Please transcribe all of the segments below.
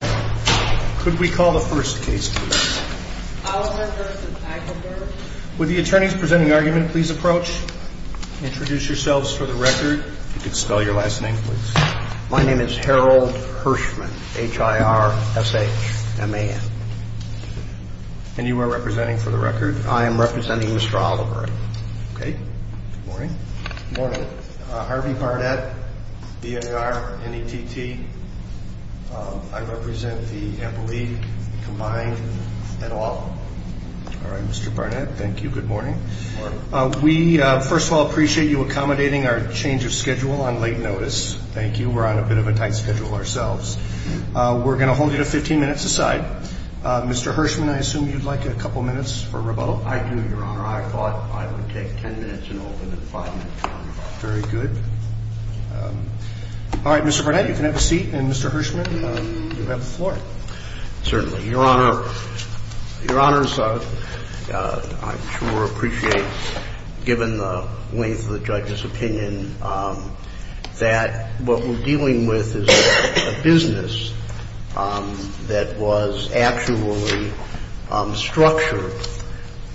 Could we call the first case, please? Would the attorneys presenting the argument please approach? Introduce yourselves for the record. If you could spell your last name, please. My name is Harold Hirschman, H-I-R-S-H-M-A-N. And you are representing for the record? I am representing Mr. Oliver. Okay. Good morning. Good morning. Harvey Barnett, B-A-R-N-E-T-T. I represent the Apple League combined and all. All right, Mr. Barnett. Thank you. Good morning. Good morning. We, first of all, appreciate you accommodating our change of schedule on late notice. Thank you. We're on a bit of a tight schedule ourselves. We're going to hold you to 15 minutes aside. Mr. Hirschman, I assume you'd like a couple minutes for rebuttal? I do, Your Honor. I thought I would take 10 minutes and open at five minutes. Very good. All right, Mr. Barnett, you can have a seat. And, Mr. Hirschman, you have the floor. Certainly. Your Honor, I'm sure appreciate, given the length of the judge's opinion, that what we're dealing with is a business that was actually structured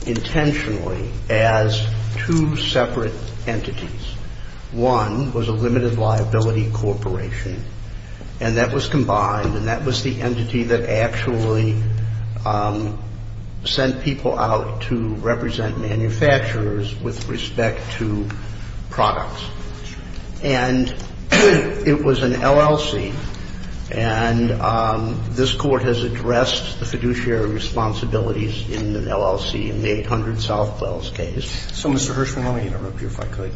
intentionally as two separate entities. One was a limited liability corporation, and that was combined, and that was the entity that actually sent people out to represent manufacturers with respect to products. And it was an LLC, and this Court has addressed the fiduciary responsibilities in an LLC in the 800 Southwells case. So, Mr. Hirschman, let me interrupt you if I could.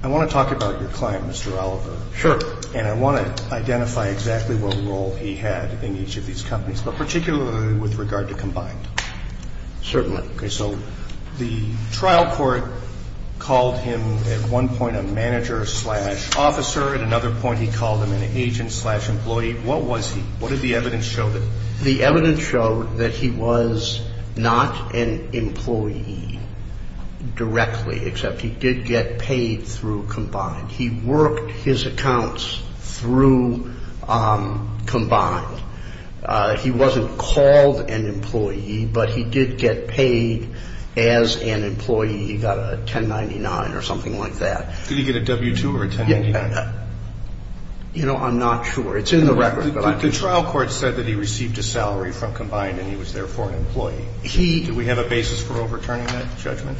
I want to talk about your client, Mr. Oliver. Sure. And I want to identify exactly what role he had in each of these companies, but particularly with regard to combined. Certainly. Okay. So the trial court called him at one point a manager slash officer. At another point, he called him an agent slash employee. What was he? What did the evidence show? The evidence showed that he was not an employee directly, except he did get paid through combined. He worked his accounts through combined. He wasn't called an employee, but he did get paid as an employee. He got a 1099 or something like that. Did he get a W-2 or a 1099? You know, I'm not sure. It's in the record. The trial court said that he received a salary from combined and he was therefore an employee. He Do we have a basis for overturning that judgment?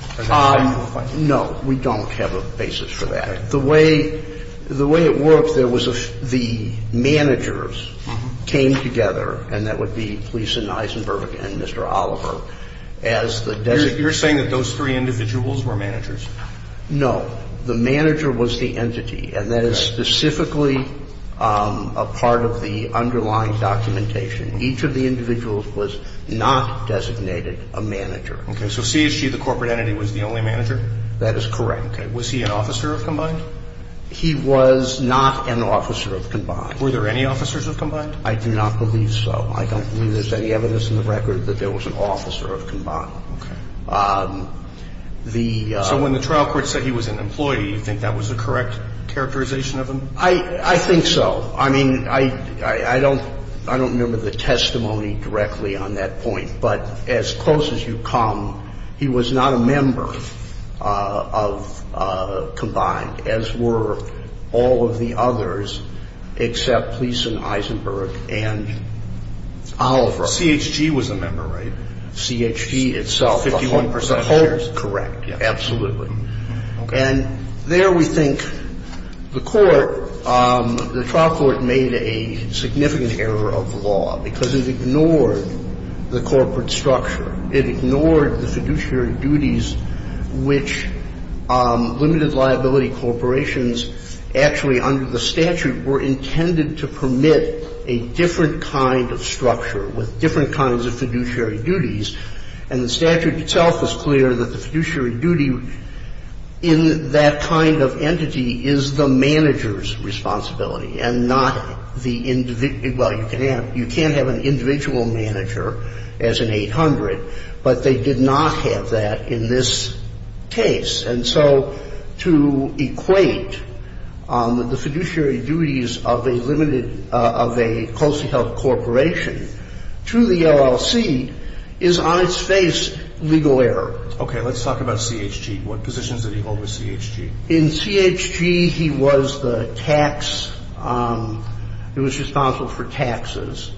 No. We don't have a basis for that. The way it worked, there was a the managers came together, and that would be Gleason, Eisenberg and Mr. Oliver, as the designated No. The manager was the entity. And that is specifically a part of the underlying documentation. Each of the individuals was not designated a manager. So CHG, the corporate entity, was the only manager? That is correct. Okay. Was he an officer of combined? He was not an officer of combined. Were there any officers of combined? I do not believe so. I don't believe there's any evidence in the record that there was an officer of combined. Okay. The So when the trial court said he was an employee, do you think that was the correct characterization of him? I think so. I mean, I don't remember the testimony directly on that point. But as close as you come, he was not a member of combined, as were all of the others except Gleason, Eisenberg and Oliver. CHG was a member, right? CHG itself. 51% of shares. Correct. Absolutely. And there we think the court, the trial court made a significant error of law because it ignored the corporate structure. It ignored the fiduciary duties which limited liability corporations actually under the statute were intended to permit a different kind of structure with different kinds of fiduciary duties. And the statute itself was clear that the fiduciary duty in that kind of entity is the manager's responsibility and not the individual. Well, you can't have an individual manager as an 800, but they did not have that in this case. And so to equate the fiduciary duties of a limited, of a closely held corporation to the LLC is on its face legal error. Okay. Let's talk about CHG. What positions did he hold with CHG? In CHG, he was the tax — he was responsible for taxes.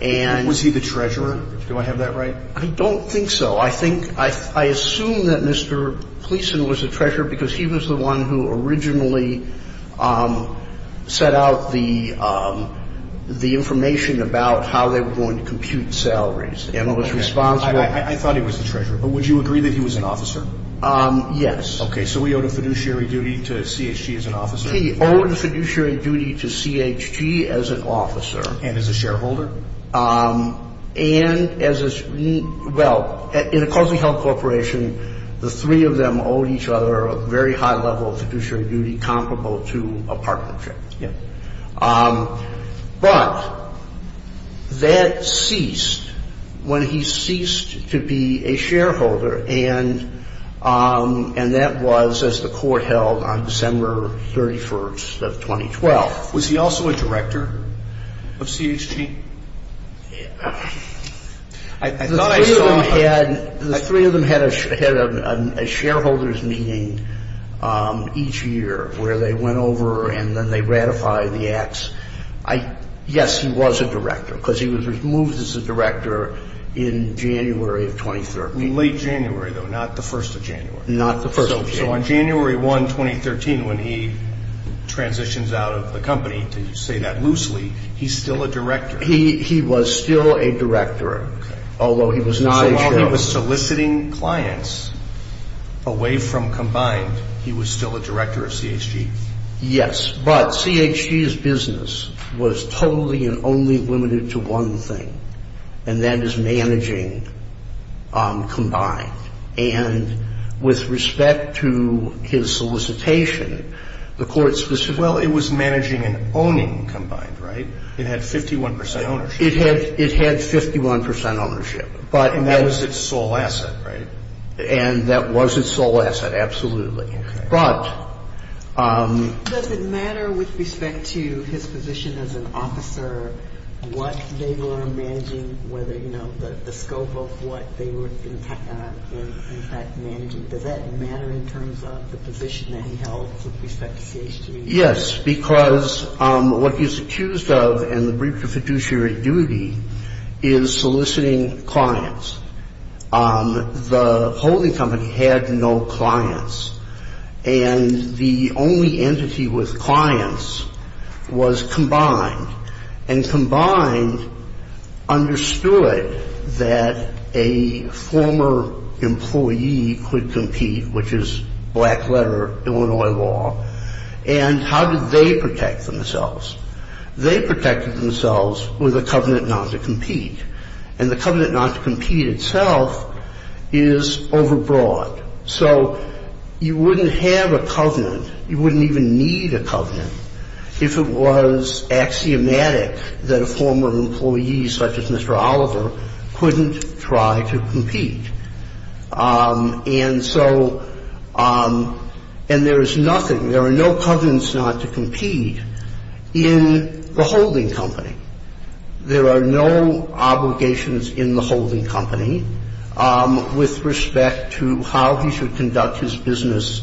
And — Was he the treasurer? Do I have that right? I don't think so. I think — I assume that Mr. Gleason was the treasurer because he was the one who computed salaries and was responsible — I thought he was the treasurer. But would you agree that he was an officer? Yes. Okay. So he owed a fiduciary duty to CHG as an officer? He owed a fiduciary duty to CHG as an officer. And as a shareholder? And as a — well, in a closely held corporation, the three of them owed each other a very high level of fiduciary duty comparable to a partnership. Yeah. But that ceased when he ceased to be a shareholder. And that was as the court held on December 31st of 2012. Was he also a director of CHG? I thought I saw him — The three of them had a shareholders' meeting each year where they went over and then they ratified the acts. Yes, he was a director because he was removed as a director in January of 2013. Late January, though, not the first of January. Not the first of January. So on January 1, 2013, when he transitions out of the company, to say that loosely, he's still a director. He was still a director. Okay. Although he was not a shareholder. So while he was soliciting clients away from combined, he was still a director of CHG? Yes. But CHG's business was totally and only limited to one thing, and that is managing combined. And with respect to his solicitation, the court specifically — Well, it was managing and owning combined, right? It had 51 percent ownership. It had 51 percent ownership, but — And that was its sole asset, right? And that was its sole asset, absolutely. Okay. But — Does it matter with respect to his position as an officer what they were managing, whether, you know, the scope of what they were, in fact, managing? Does that matter in terms of the position that he held with respect to CHG? Yes, because what he's accused of in the brief for fiduciary duty is soliciting clients. The holding company had no clients. And the only entity with clients was combined. And combined understood that a former employee could compete, which is black letter Illinois law. And how did they protect themselves? And the covenant not to compete itself is overbroad. So you wouldn't have a covenant, you wouldn't even need a covenant, if it was axiomatic that a former employee, such as Mr. Oliver, couldn't try to compete. And so — and there is nothing, there are no covenants not to compete in the holding company. There are no obligations in the holding company with respect to how he should conduct his business.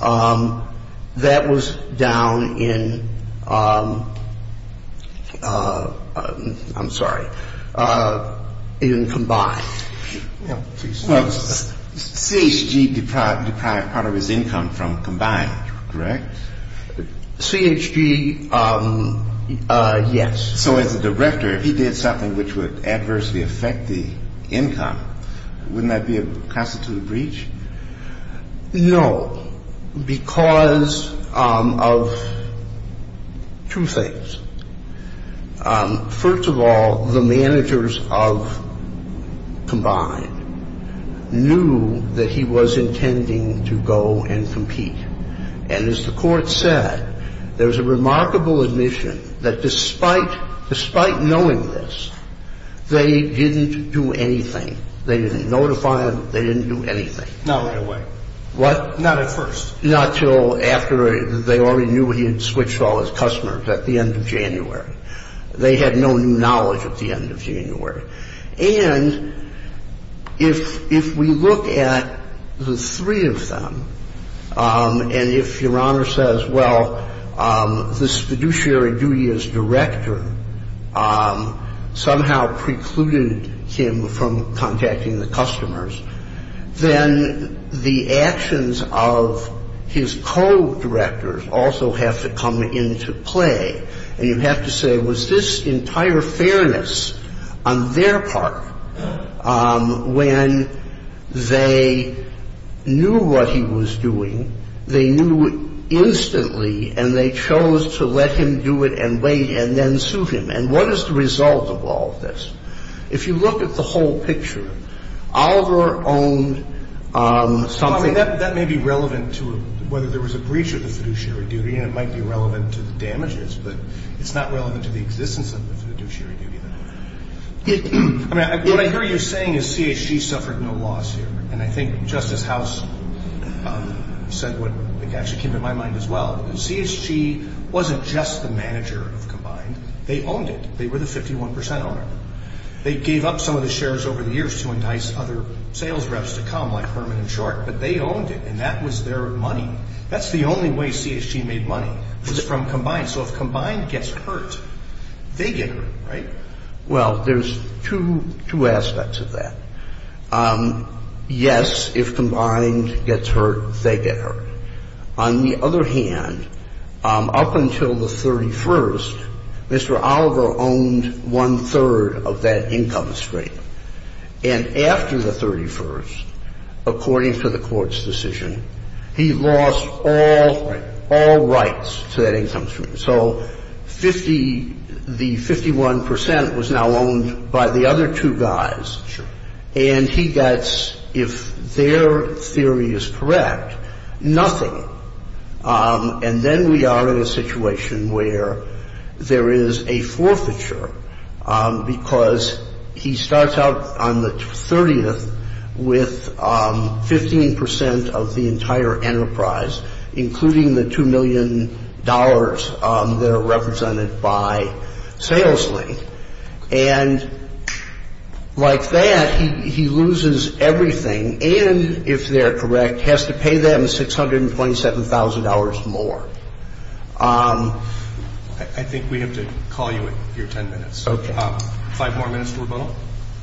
That was down in — I'm sorry, in combined. CHG deprived part of his income from combined, correct? CHG, yes. So as a director, if he did something which would adversely affect the income, wouldn't that be a constituted breach? No, because of two things. First of all, the managers of combined knew that he was intending to go and compete. And as the Court said, there's a remarkable admission that despite knowing this, they didn't do anything. They didn't notify him. They didn't do anything. Not right away. What? Not at first. Not until after they already knew he had switched all his customers at the end of January. They had no new knowledge at the end of January. And if we look at the three of them, and if Your Honor says, well, the fiduciary duty as director somehow precluded him from contacting the customers, then the actions of his co-directors also have to come into play. And you have to say, was this entire fairness on their part when they knew what he was doing, they knew instantly, and they chose to let him do it and wait and then sue him? And what is the result of all of this? If you look at the whole picture, Oliver owned something. Well, I mean, that may be relevant to whether there was a breach of the fiduciary duty, and it might be relevant to the damages, but it's not relevant to the existence of the fiduciary duty. I mean, what I hear you saying is CHG suffered no loss here. And I think Justice House said what actually came to my mind as well. CHG wasn't just the manager of Combined. They owned it. They were the 51 percent owner. They gave up some of the shares over the years to entice other sales reps to come, like Herman and Short. But they owned it, and that was their money. That's the only way CHG made money was from Combined. So if Combined gets hurt, they get hurt, right? Well, there's two aspects of that. On the other hand, up until the 31st, Mr. Oliver owned one-third of that income stream. And after the 31st, according to the Court's decision, he lost all rights to that income stream. So the 51 percent was now owned by the other two guys. Sure. And he gets, if their theory is correct, nothing. And then we are in a situation where there is a forfeiture, because he starts out on the 30th with 15 percent of the entire enterprise, including the $2 million that are represented by SalesLink. And like that, he loses everything and, if they're correct, has to pay them $627,000 more. I think we have to call you at your 10 minutes. Okay. Five more minutes to rebuttal?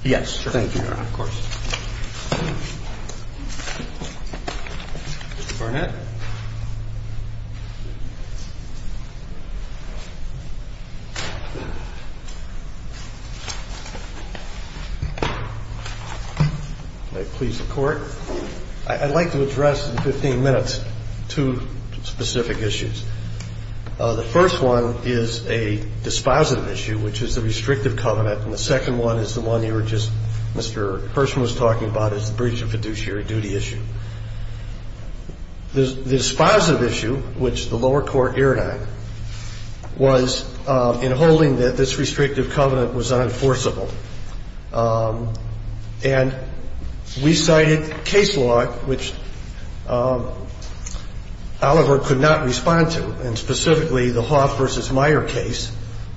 Yes. Thank you, Your Honor. Of course. Mr. Barnett. May it please the Court? I'd like to address in 15 minutes two specific issues. The first one is a dispositive issue, which is the restrictive covenant, and the second one is the one you were just, Mr. Hirschman was talking about, is the breach of fiduciary duty issue. The dispositive issue, which the lower court erred on, was in holding that this restrictive covenant was unenforceable. And we cited case law, which Oliver could not respond to, and specifically the Hoff v. Meyer case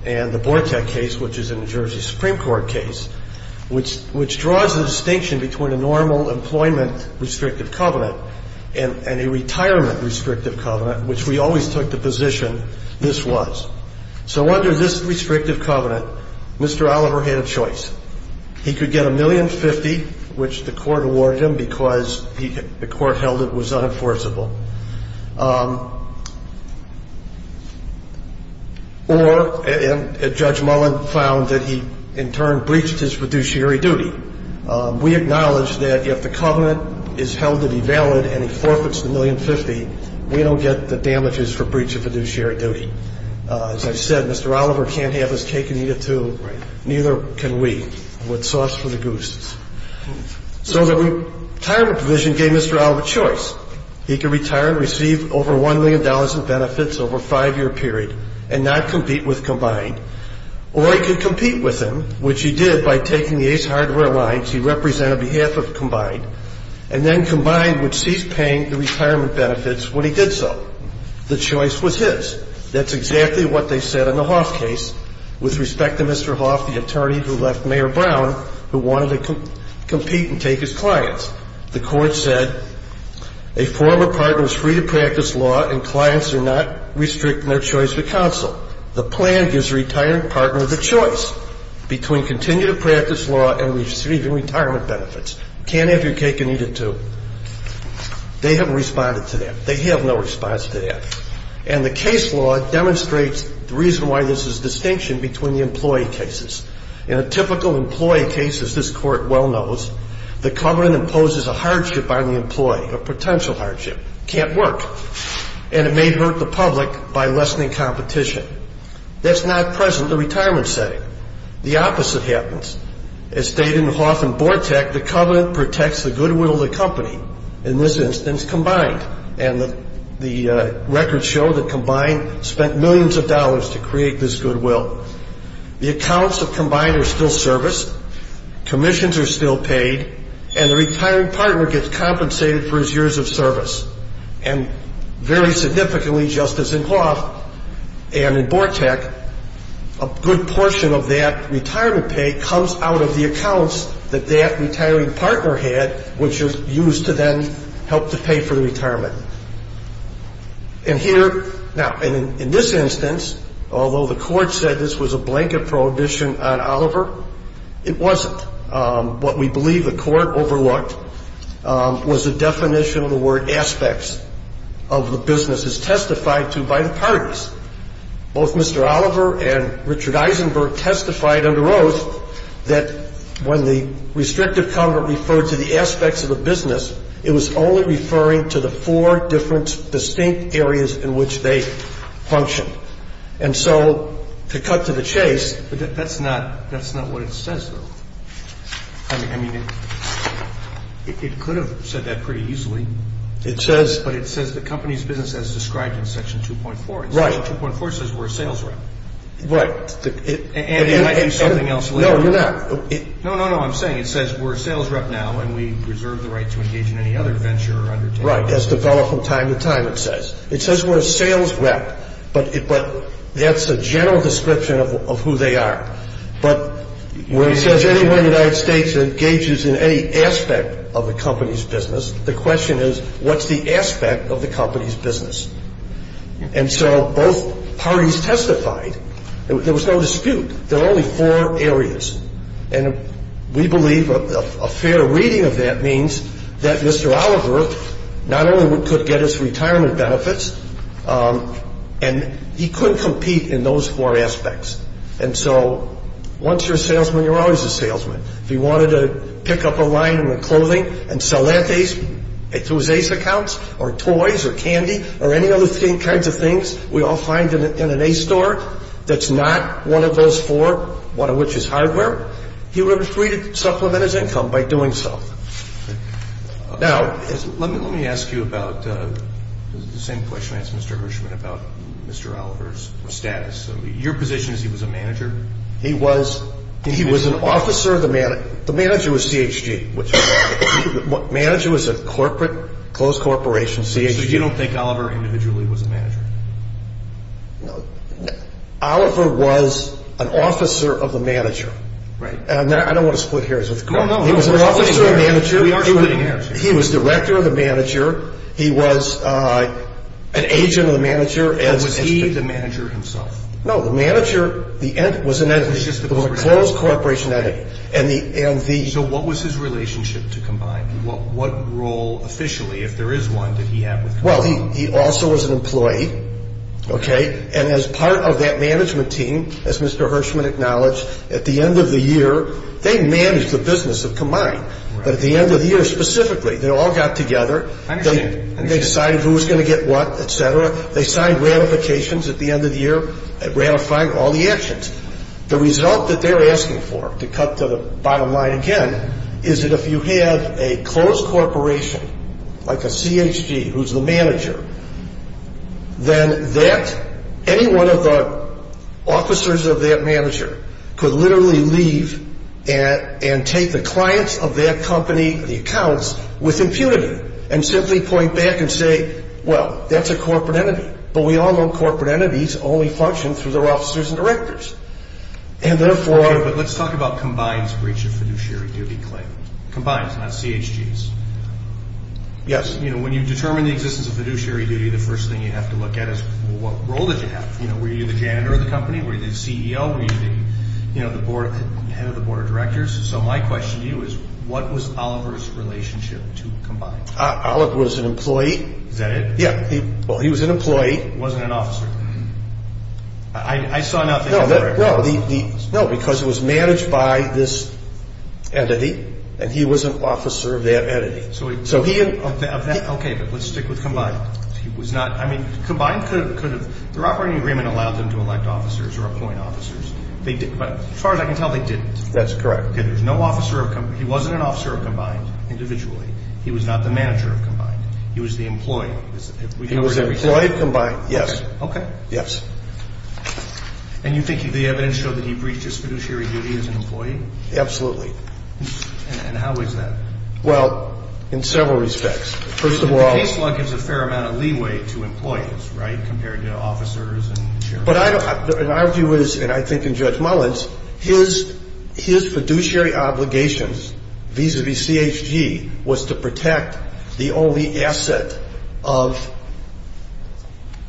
and the Bortek case, which is a New Jersey Supreme Court case, which draws the distinction between a normal employment restrictive covenant and a retirement restrictive covenant, which we always took the position this was. So under this restrictive covenant, Mr. Oliver had a choice. He could get $1,050,000, which the court awarded him because the court held it was unenforceable, or Judge Mullen found that he in turn breached his fiduciary duty. We acknowledge that if the covenant is held to be valid and he forfeits the $1,050,000, we don't get the damages for breach of fiduciary duty. As I said, Mr. Oliver can't have his cake and eat it too. Right. Neither can we. What's sauce for the goose? So the retirement provision gave Mr. Oliver a choice. He could retire and receive over $1 million in benefits over a five-year period and not compete with Combined, or he could compete with them, which he did by taking the Ace Hardware lines he represented on behalf of Combined and then Combined would cease paying the retirement benefits when he did so. The choice was his. That's exactly what they said in the Hoff case with respect to Mr. Hoff, the attorney who left Mayor Brown, who wanted to compete and take his clients. The court said a former partner is free to practice law and clients are not restricted in their choice of counsel. The plan gives the retired partner the choice between continuing to practice law and receiving retirement benefits. Can't have your cake and eat it too. They haven't responded to that. They have no response to that. And the case law demonstrates the reason why this is a distinction between the employee cases. In a typical employee case, as this Court well knows, the covenant imposes a hardship on the employee, a potential hardship. Can't work. And it may hurt the public by lessening competition. That's not present in the retirement setting. The opposite happens. As stated in Hoff and Bortek, the covenant protects the goodwill of the company, in this instance Combined, and the records show that Combined spent millions of dollars to create this goodwill. The accounts of Combined are still serviced. Commissions are still paid. And the retiring partner gets compensated for his years of service. And very significantly, just as in Hoff and in Bortek, a good portion of that retirement pay comes out of the accounts that that retiring partner had, which is used to then help to pay for the retirement. And here, now, in this instance, although the court said this was a blanket prohibition on Oliver, it wasn't. What we believe the court overlooked was the definition of the word aspects of the businesses testified to by the parties. Both Mr. Oliver and Richard Eisenberg testified under oath that when the restrictive covenant referred to the aspects of the business, it was only referring to the four different distinct areas in which they functioned. And so to cut to the chase. But that's not what it says, though. I mean, it could have said that pretty easily. It says. But it says the company's business as described in Section 2.4. Right. Section 2.4 says we're a sales rep. Right. And it might do something else later. No, you're not. No, no, no. I'm saying it says we're a sales rep now, and we reserve the right to engage in any other venture or undertaking. Right. As developed from time to time, it says. It says we're a sales rep. But that's a general description of who they are. But where it says anyone in the United States engages in any aspect of the company's business, the question is what's the aspect of the company's business? And so both parties testified. There was no dispute. There were only four areas. And we believe a fair reading of that means that Mr. Oliver not only could get his income, but he could compete in those four aspects. And so once you're a salesman, you're always a salesman. If he wanted to pick up a line in the clothing and sell lattes through his Ace accounts or toys or candy or any other kinds of things we all find in an Ace store that's not one of those four, one of which is hardware, he was free to supplement his income by doing so. Now, let me ask you about the same question I asked Mr. Hirschman about Mr. Oliver's status. Your position is he was a manager? He was. He was an officer of the manager. The manager was CHG. The manager was a corporate, closed corporation, CHG. So you don't think Oliver individually was a manager? No. Oliver was an officer of the manager. Right. And I don't want to split hairs. No, no. He was an officer of the manager. We aren't splitting hairs here. He was director of the manager. He was an agent of the manager. Or was he the manager himself? No, the manager was an entity, the closed corporation entity. So what was his relationship to Combine? What role, officially, if there is one, did he have with Combine? Well, he also was an employee, okay? And as part of that management team, as Mr. Hirschman acknowledged, at the end of the year, they managed the business of Combine. But at the end of the year, specifically, they all got together. I understand. And they decided who was going to get what, et cetera. They signed ratifications at the end of the year, ratifying all the actions. The result that they're asking for, to cut to the bottom line again, is that if you have a closed corporation, like a CHG, who's the manager, then that, any one of the officers of that manager could literally leave and take the clients of that company, the accounts, with impunity and simply point back and say, well, that's a corporate entity. But we all know corporate entities only function through their officers and directors. Okay, but let's talk about Combine's breach of fiduciary duty claim. Combine's, not CHG's. Yes. When you determine the existence of fiduciary duty, the first thing you have to look at is, well, what role did you have? Were you the janitor of the company? Were you the CEO? Were you the head of the board of directors? So my question to you is, what was Oliver's relationship to Combine? Oliver was an employee. Is that it? Yeah. Well, he was an employee. He wasn't an officer. I saw nothing of that. No, because it was managed by this entity, and he was an officer of that entity. Okay, but let's stick with Combine. He was not, I mean, Combine could have, their operating agreement allowed them to elect officers or appoint officers. But as far as I can tell, they didn't. That's correct. Okay, there was no officer of, he wasn't an officer of Combine individually. He was not the manager of Combine. He was the employee. He was an employee of Combine, yes. Okay. Yes. And you think the evidence showed that he breached his fiduciary duty as an employee? Absolutely. And how is that? Well, in several respects. First of all. The case log gives a fair amount of leeway to employees, right, compared to officers and chairmen. But I don't, and our view is, and I think in Judge Mullins, his fiduciary obligations vis-a-vis CHG was to protect the only asset of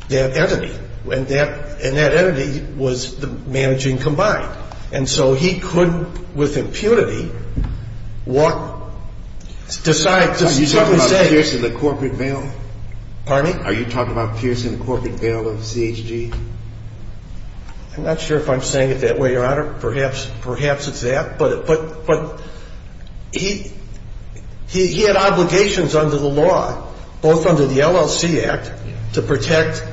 that entity. And that entity was the managing Combine. And so he could, with impunity, walk, decide. Are you talking about piercing the corporate veil? Pardon me? Are you talking about piercing the corporate veil of CHG? I'm not sure if I'm saying it that way, Your Honor. Perhaps it's that. But he had obligations under the law, both under the LLC Act, to protect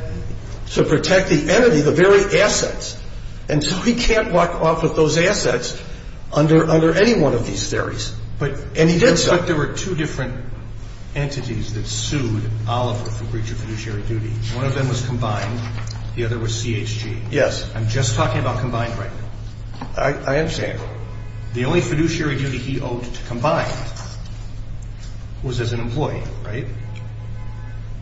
the entity, the very assets. And so he can't walk off with those assets under any one of these theories. And he did so. But there were two different entities that sued Oliver for breach of fiduciary duty. One of them was Combine. The other was CHG. Yes. I'm just talking about Combine right now. I understand. The only fiduciary duty he owed to Combine was as an employee, right?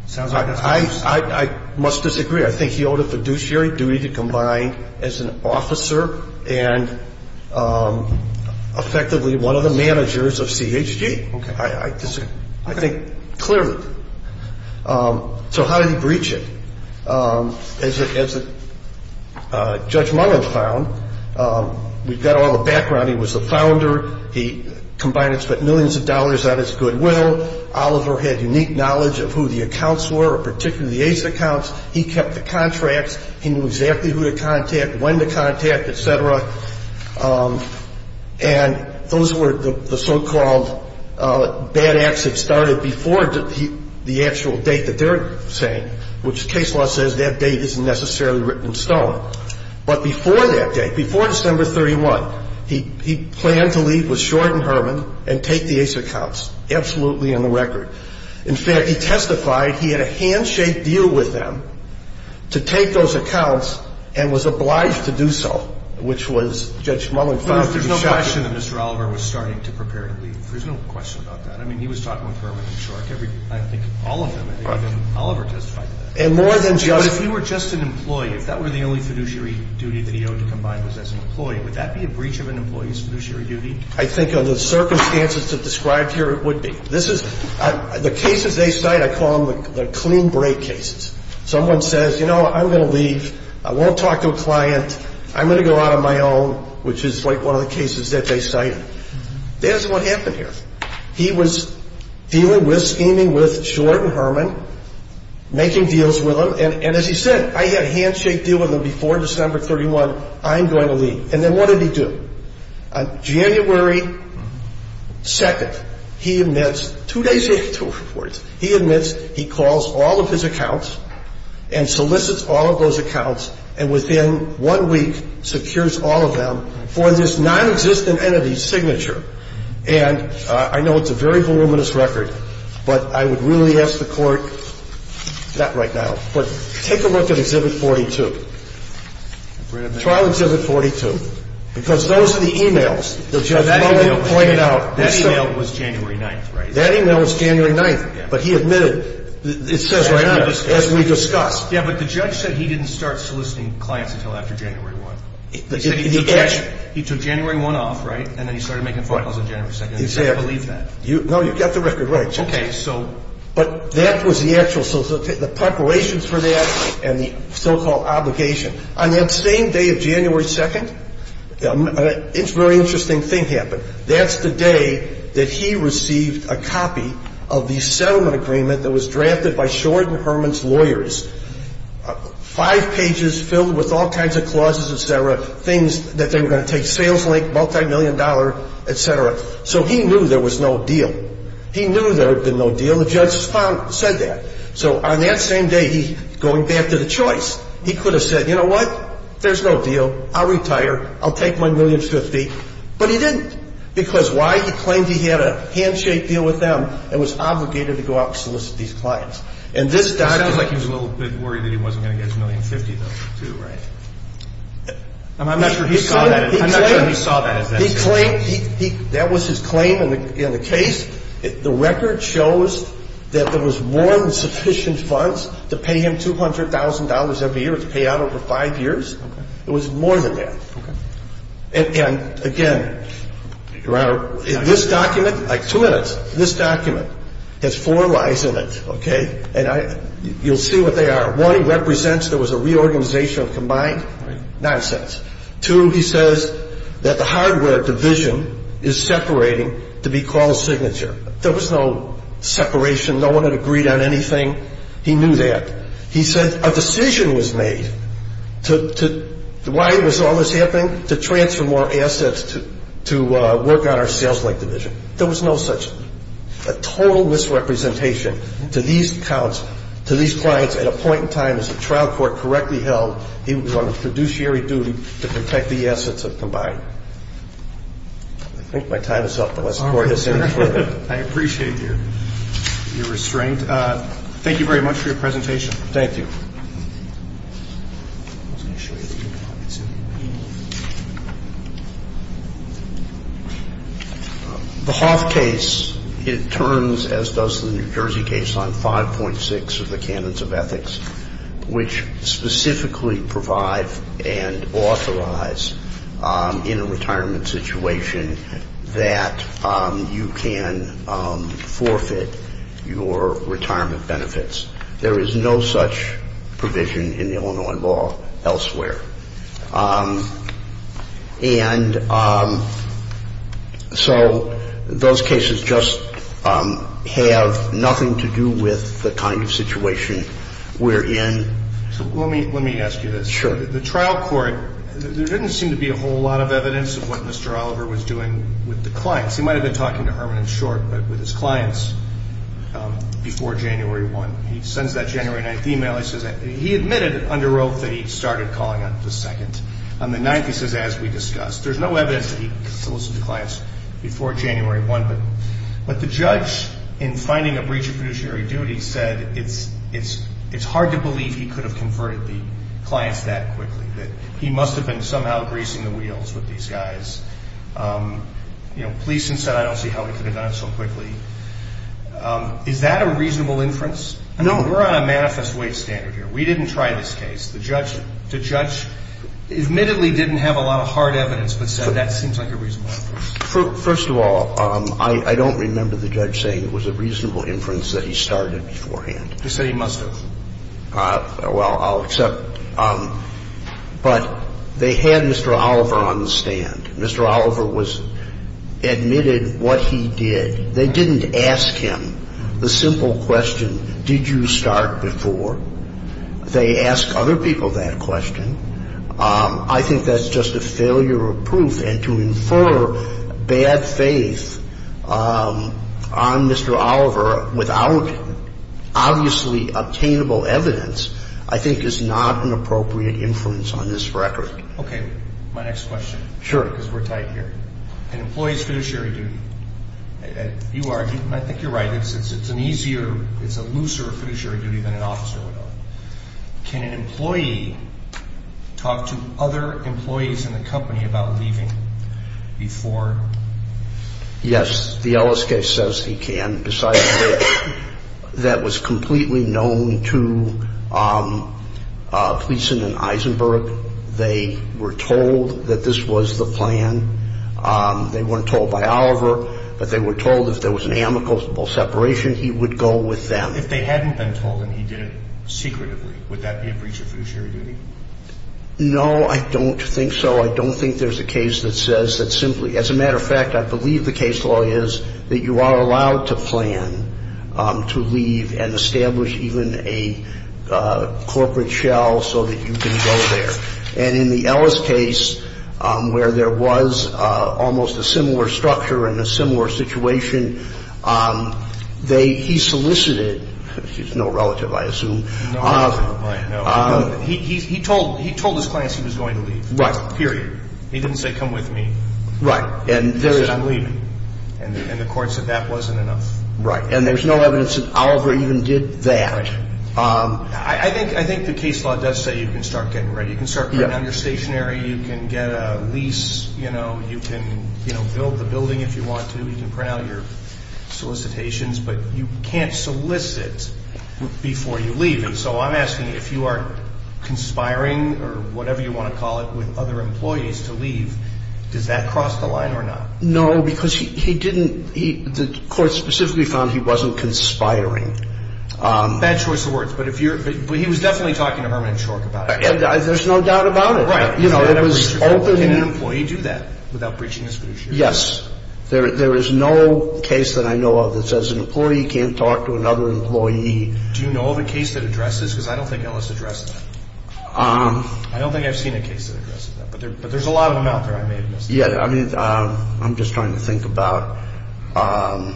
Sounds like that's what you're saying. I must disagree. I think he owed a fiduciary duty to Combine as an officer and effectively one of the managers of CHG. Okay. I think clearly. So how did he breach it? As Judge Munger found, we've got all the background. He was the founder. He, Combine, had spent millions of dollars on his goodwill. Oliver had unique knowledge of who the accounts were, particularly the Ace accounts. He kept the contracts. He knew exactly who to contact, when to contact, et cetera. And those were the so-called bad acts that started before the actual date that they're saying, which case law says that date isn't necessarily written in stone. But before that date, before December 31, he planned to leave with Short and Herman and take the Ace accounts, absolutely on the record. In fact, he testified he had a handshake deal with them to take those accounts and was obliged to do so, which was Judge Munger found to be shocking. There's no question that Mr. Oliver was starting to prepare to leave. There's no question about that. I mean, he was talking with Herman and Short. I think all of them. Oliver testified to that. And more than just. But if you were just an employee, if that were the only fiduciary duty that he owed to Combine was as an employee, would that be a breach of an employee's fiduciary duty? I think under the circumstances that are described here, it would be. The cases they cite, I call them the clean break cases. Someone says, you know, I'm going to leave. I won't talk to a client. I'm going to go out on my own, which is like one of the cases that they cite. That's what happened here. He was dealing with, scheming with Short and Herman, making deals with them. And as he said, I had a handshake deal with them before December 31. I'm going to leave. And then what did he do? On January 2, he admits, two days in, he admits he calls all of his accounts and solicits all of those accounts and within one week secures all of them for this nonexistent entity's signature. And I know it's a very voluminous record, but I would really ask the Court, not right now, but take a look at Exhibit 42. Trial Exhibit 42. Because those are the e-mails that Judge Logan pointed out. That e-mail was January 9th, right? That e-mail was January 9th, but he admitted, it says right on it, as we discussed. Yeah, but the judge said he didn't start soliciting clients until after January 1. He said he took January 1 off, right, and then he started making phone calls on January 2nd. He said he believed that. No, you've got the record right. Okay, so. But that was the actual solicitation, the preparations for that and the so-called obligation. On that same day of January 2nd, a very interesting thing happened. That's the day that he received a copy of the settlement agreement that was drafted by Short and Herman's lawyers, five pages filled with all kinds of clauses, et cetera, things that they were going to take, sales link, multimillion dollar, et cetera. So he knew there was no deal. He knew there had been no deal. The judge said that. So on that same day, he's going back to the choice. He could have said, you know what, there's no deal, I'll retire, I'll take my $1,050,000, but he didn't. Because why? He claimed he had a handshake deal with them and was obligated to go out and solicit these clients. And this doctor. It sounds like he was a little bit worried that he wasn't going to get his $1,050,000, though, too, right? I'm not sure he saw that as that. He claimed that was his claim in the case. The record shows that there was more than sufficient funds to pay him $200,000 every year, to pay out over five years. It was more than that. And, again, Your Honor, this document, like two minutes, this document has four lies in it, okay? And you'll see what they are. One, it represents there was a reorganization of combined nonsense. Two, he says that the hardware division is separating to be called Signature. There was no separation. No one had agreed on anything. He knew that. He said a decision was made to, why was all this happening? To transfer more assets to work on our sales link division. There was no such, a total misrepresentation to these accounts, to these clients, to these clients. And, again, this document, like two minutes, this document has four lies in it, okay? And you'll see what they are. One, it represents there was a reorganization of combined nonsense. Two, he says that the hardware division is separating to be called Signature. No one had agreed on anything. And, again, this document has four lies in it, okay? which specifically provide and authorize, in a retirement situation, that you can forfeit your retirement benefits. There is no such provision in the Illinois law elsewhere. And so those cases just have nothing to do with the kind of situation we're in. So let me ask you this. Sure. The trial court, there didn't seem to be a whole lot of evidence of what Mr. Oliver was doing with the clients. He might have been talking to Herman and Short, but with his clients, before January 1. He sends that January 9th email. He admitted under oath that he started calling on the 2nd. On the 9th, he says, as we discussed. There's no evidence that he solicited the clients before January 1. But the judge, in finding a breach of productionary duty, said it's hard to believe he could have converted the clients that quickly, that he must have been somehow greasing the wheels with these guys. You know, police said, I don't see how he could have done it so quickly. Is that a reasonable inference? No. We're on a manifest weight standard here. We didn't try this case. The judge admittedly didn't have a lot of hard evidence, but said that seems like a reasonable inference. First of all, I don't remember the judge saying it was a reasonable inference that he started beforehand. He said he must have. Well, I'll accept. But they had Mr. Oliver on the stand. Mr. Oliver was admitted what he did. They didn't ask him the simple question, did you start before? They asked other people that question. I think that's just a failure of proof. And to infer bad faith on Mr. Oliver without obviously obtainable evidence I think is not an appropriate inference on this record. Okay. My next question. Sure. Because we're tight here. An employee's fiduciary duty. You are. I think you're right. It's an easier, it's a looser fiduciary duty than an officer would have. Can an employee talk to other employees in the company about leaving before? Yes. The Ellis case says he can. Besides that, that was completely known to Gleason and Eisenberg. They were told that this was the plan. They weren't told by Oliver, but they were told if there was an amicable separation, he would go with them. If they hadn't been told and he did it secretively, would that be a breach of fiduciary duty? No, I don't think so. I don't think there's a case that says that simply. As a matter of fact, I believe the case law is that you are allowed to plan to leave and establish even a corporate shell so that you can go there. And in the Ellis case, where there was almost a similar structure and a similar situation, they, he solicited, he's no relative, I assume. He told his clients he was going to leave. Right. Period. He didn't say come with me. Right. He said I'm leaving. And the court said that wasn't enough. Right. And there's no evidence that Oliver even did that. Right. I think the case law does say you can start getting ready. You can start putting out your stationary. You can get a lease. You can build the building if you want to. You can print out your solicitations. But you can't solicit before you leave. And so I'm asking if you are conspiring or whatever you want to call it with other employees to leave, does that cross the line or not? No, because he didn't, the court specifically found he wasn't conspiring. Bad choice of words. But if you're, but he was definitely talking to Herman and Schork about it. There's no doubt about it. Right. You know, it was open. Can an employee do that without breaching his fiduciary? Yes. There is no case that I know of that says an employee can't talk to another employee. Do you know of a case that addresses this? Because I don't think Ellis addressed that. I don't think I've seen a case that addresses that. But there's a lot of them out there I may have missed. Yeah, I mean, I'm just trying to think about, I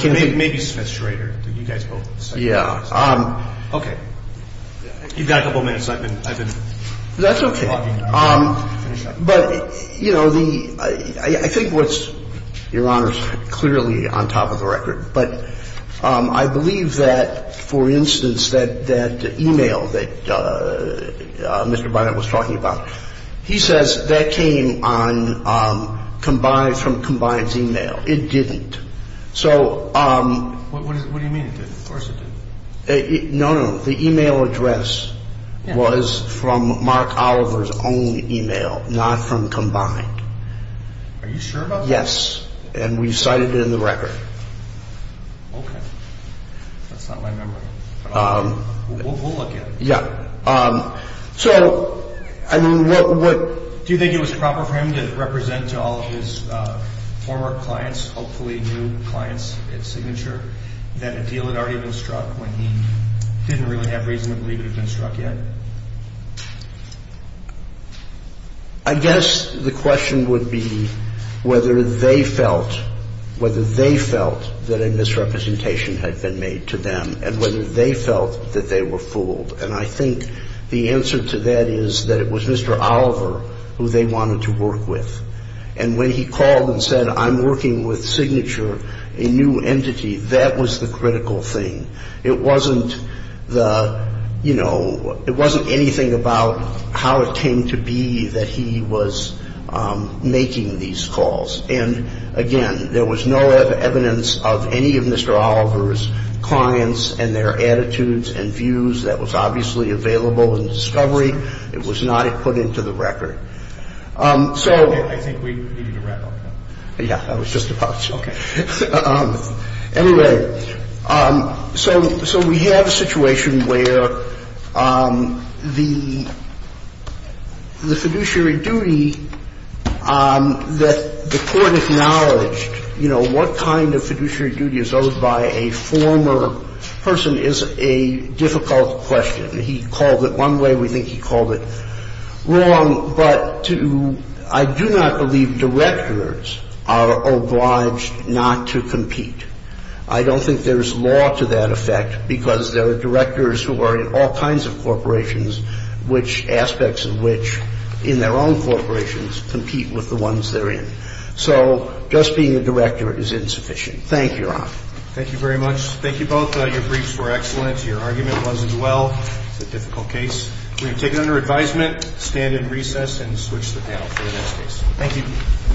can't think. Maybe Smith Schrader. You guys both. Yeah. Okay. You've got a couple minutes. I've been talking. That's okay. But, you know, the, I think what's, Your Honor, is clearly on top of the record. But I believe that, for instance, that email that Mr. Bynum was talking about, he says that came on combined from combined's email. It didn't. So. What do you mean it didn't? Of course it didn't. No, no. The email address was from Mark Oliver's own email, not from combined. Are you sure about that? Yes. And we cited it in the record. Okay. That's not my memory. But we'll look at it. Yeah. So, I mean, what. Do you think it was proper for him to represent to all of his former clients, hopefully new clients at Signature, that a deal had already been struck when he didn't really have reason to believe it had been struck yet? I guess the question would be whether they felt, whether they felt that a misrepresentation had been made to them and whether they felt that they were fooled. And I think the answer to that is that it was Mr. Oliver who they wanted to work with. And when he called and said, I'm working with Signature, a new entity, that was the critical thing. It wasn't the, you know, it wasn't anything about how it came to be that he was making these calls. And, again, there was no evidence of any of Mr. Oliver's clients and their attitudes and views. That was obviously available in discovery. It was not put into the record. So. I think we need to wrap up. Yeah. I was just about to. Okay. Anyway, so we have a situation where the fiduciary duty that the Court acknowledged, you know, what kind of fiduciary duty is owed by a former person is a difficult question. He called it one way. We think he called it wrong. But I do not believe directors are obliged not to compete. I don't think there's law to that effect because there are directors who are in all kinds of corporations, which aspects of which in their own corporations compete with the ones they're in. So just being a director is insufficient. Thank you, Your Honor. Thank you very much. Thank you both. Your briefs were excellent. Your argument was as well. It's a difficult case. We take it under advisement, stand in recess, and switch the panel for the next case. Thank you.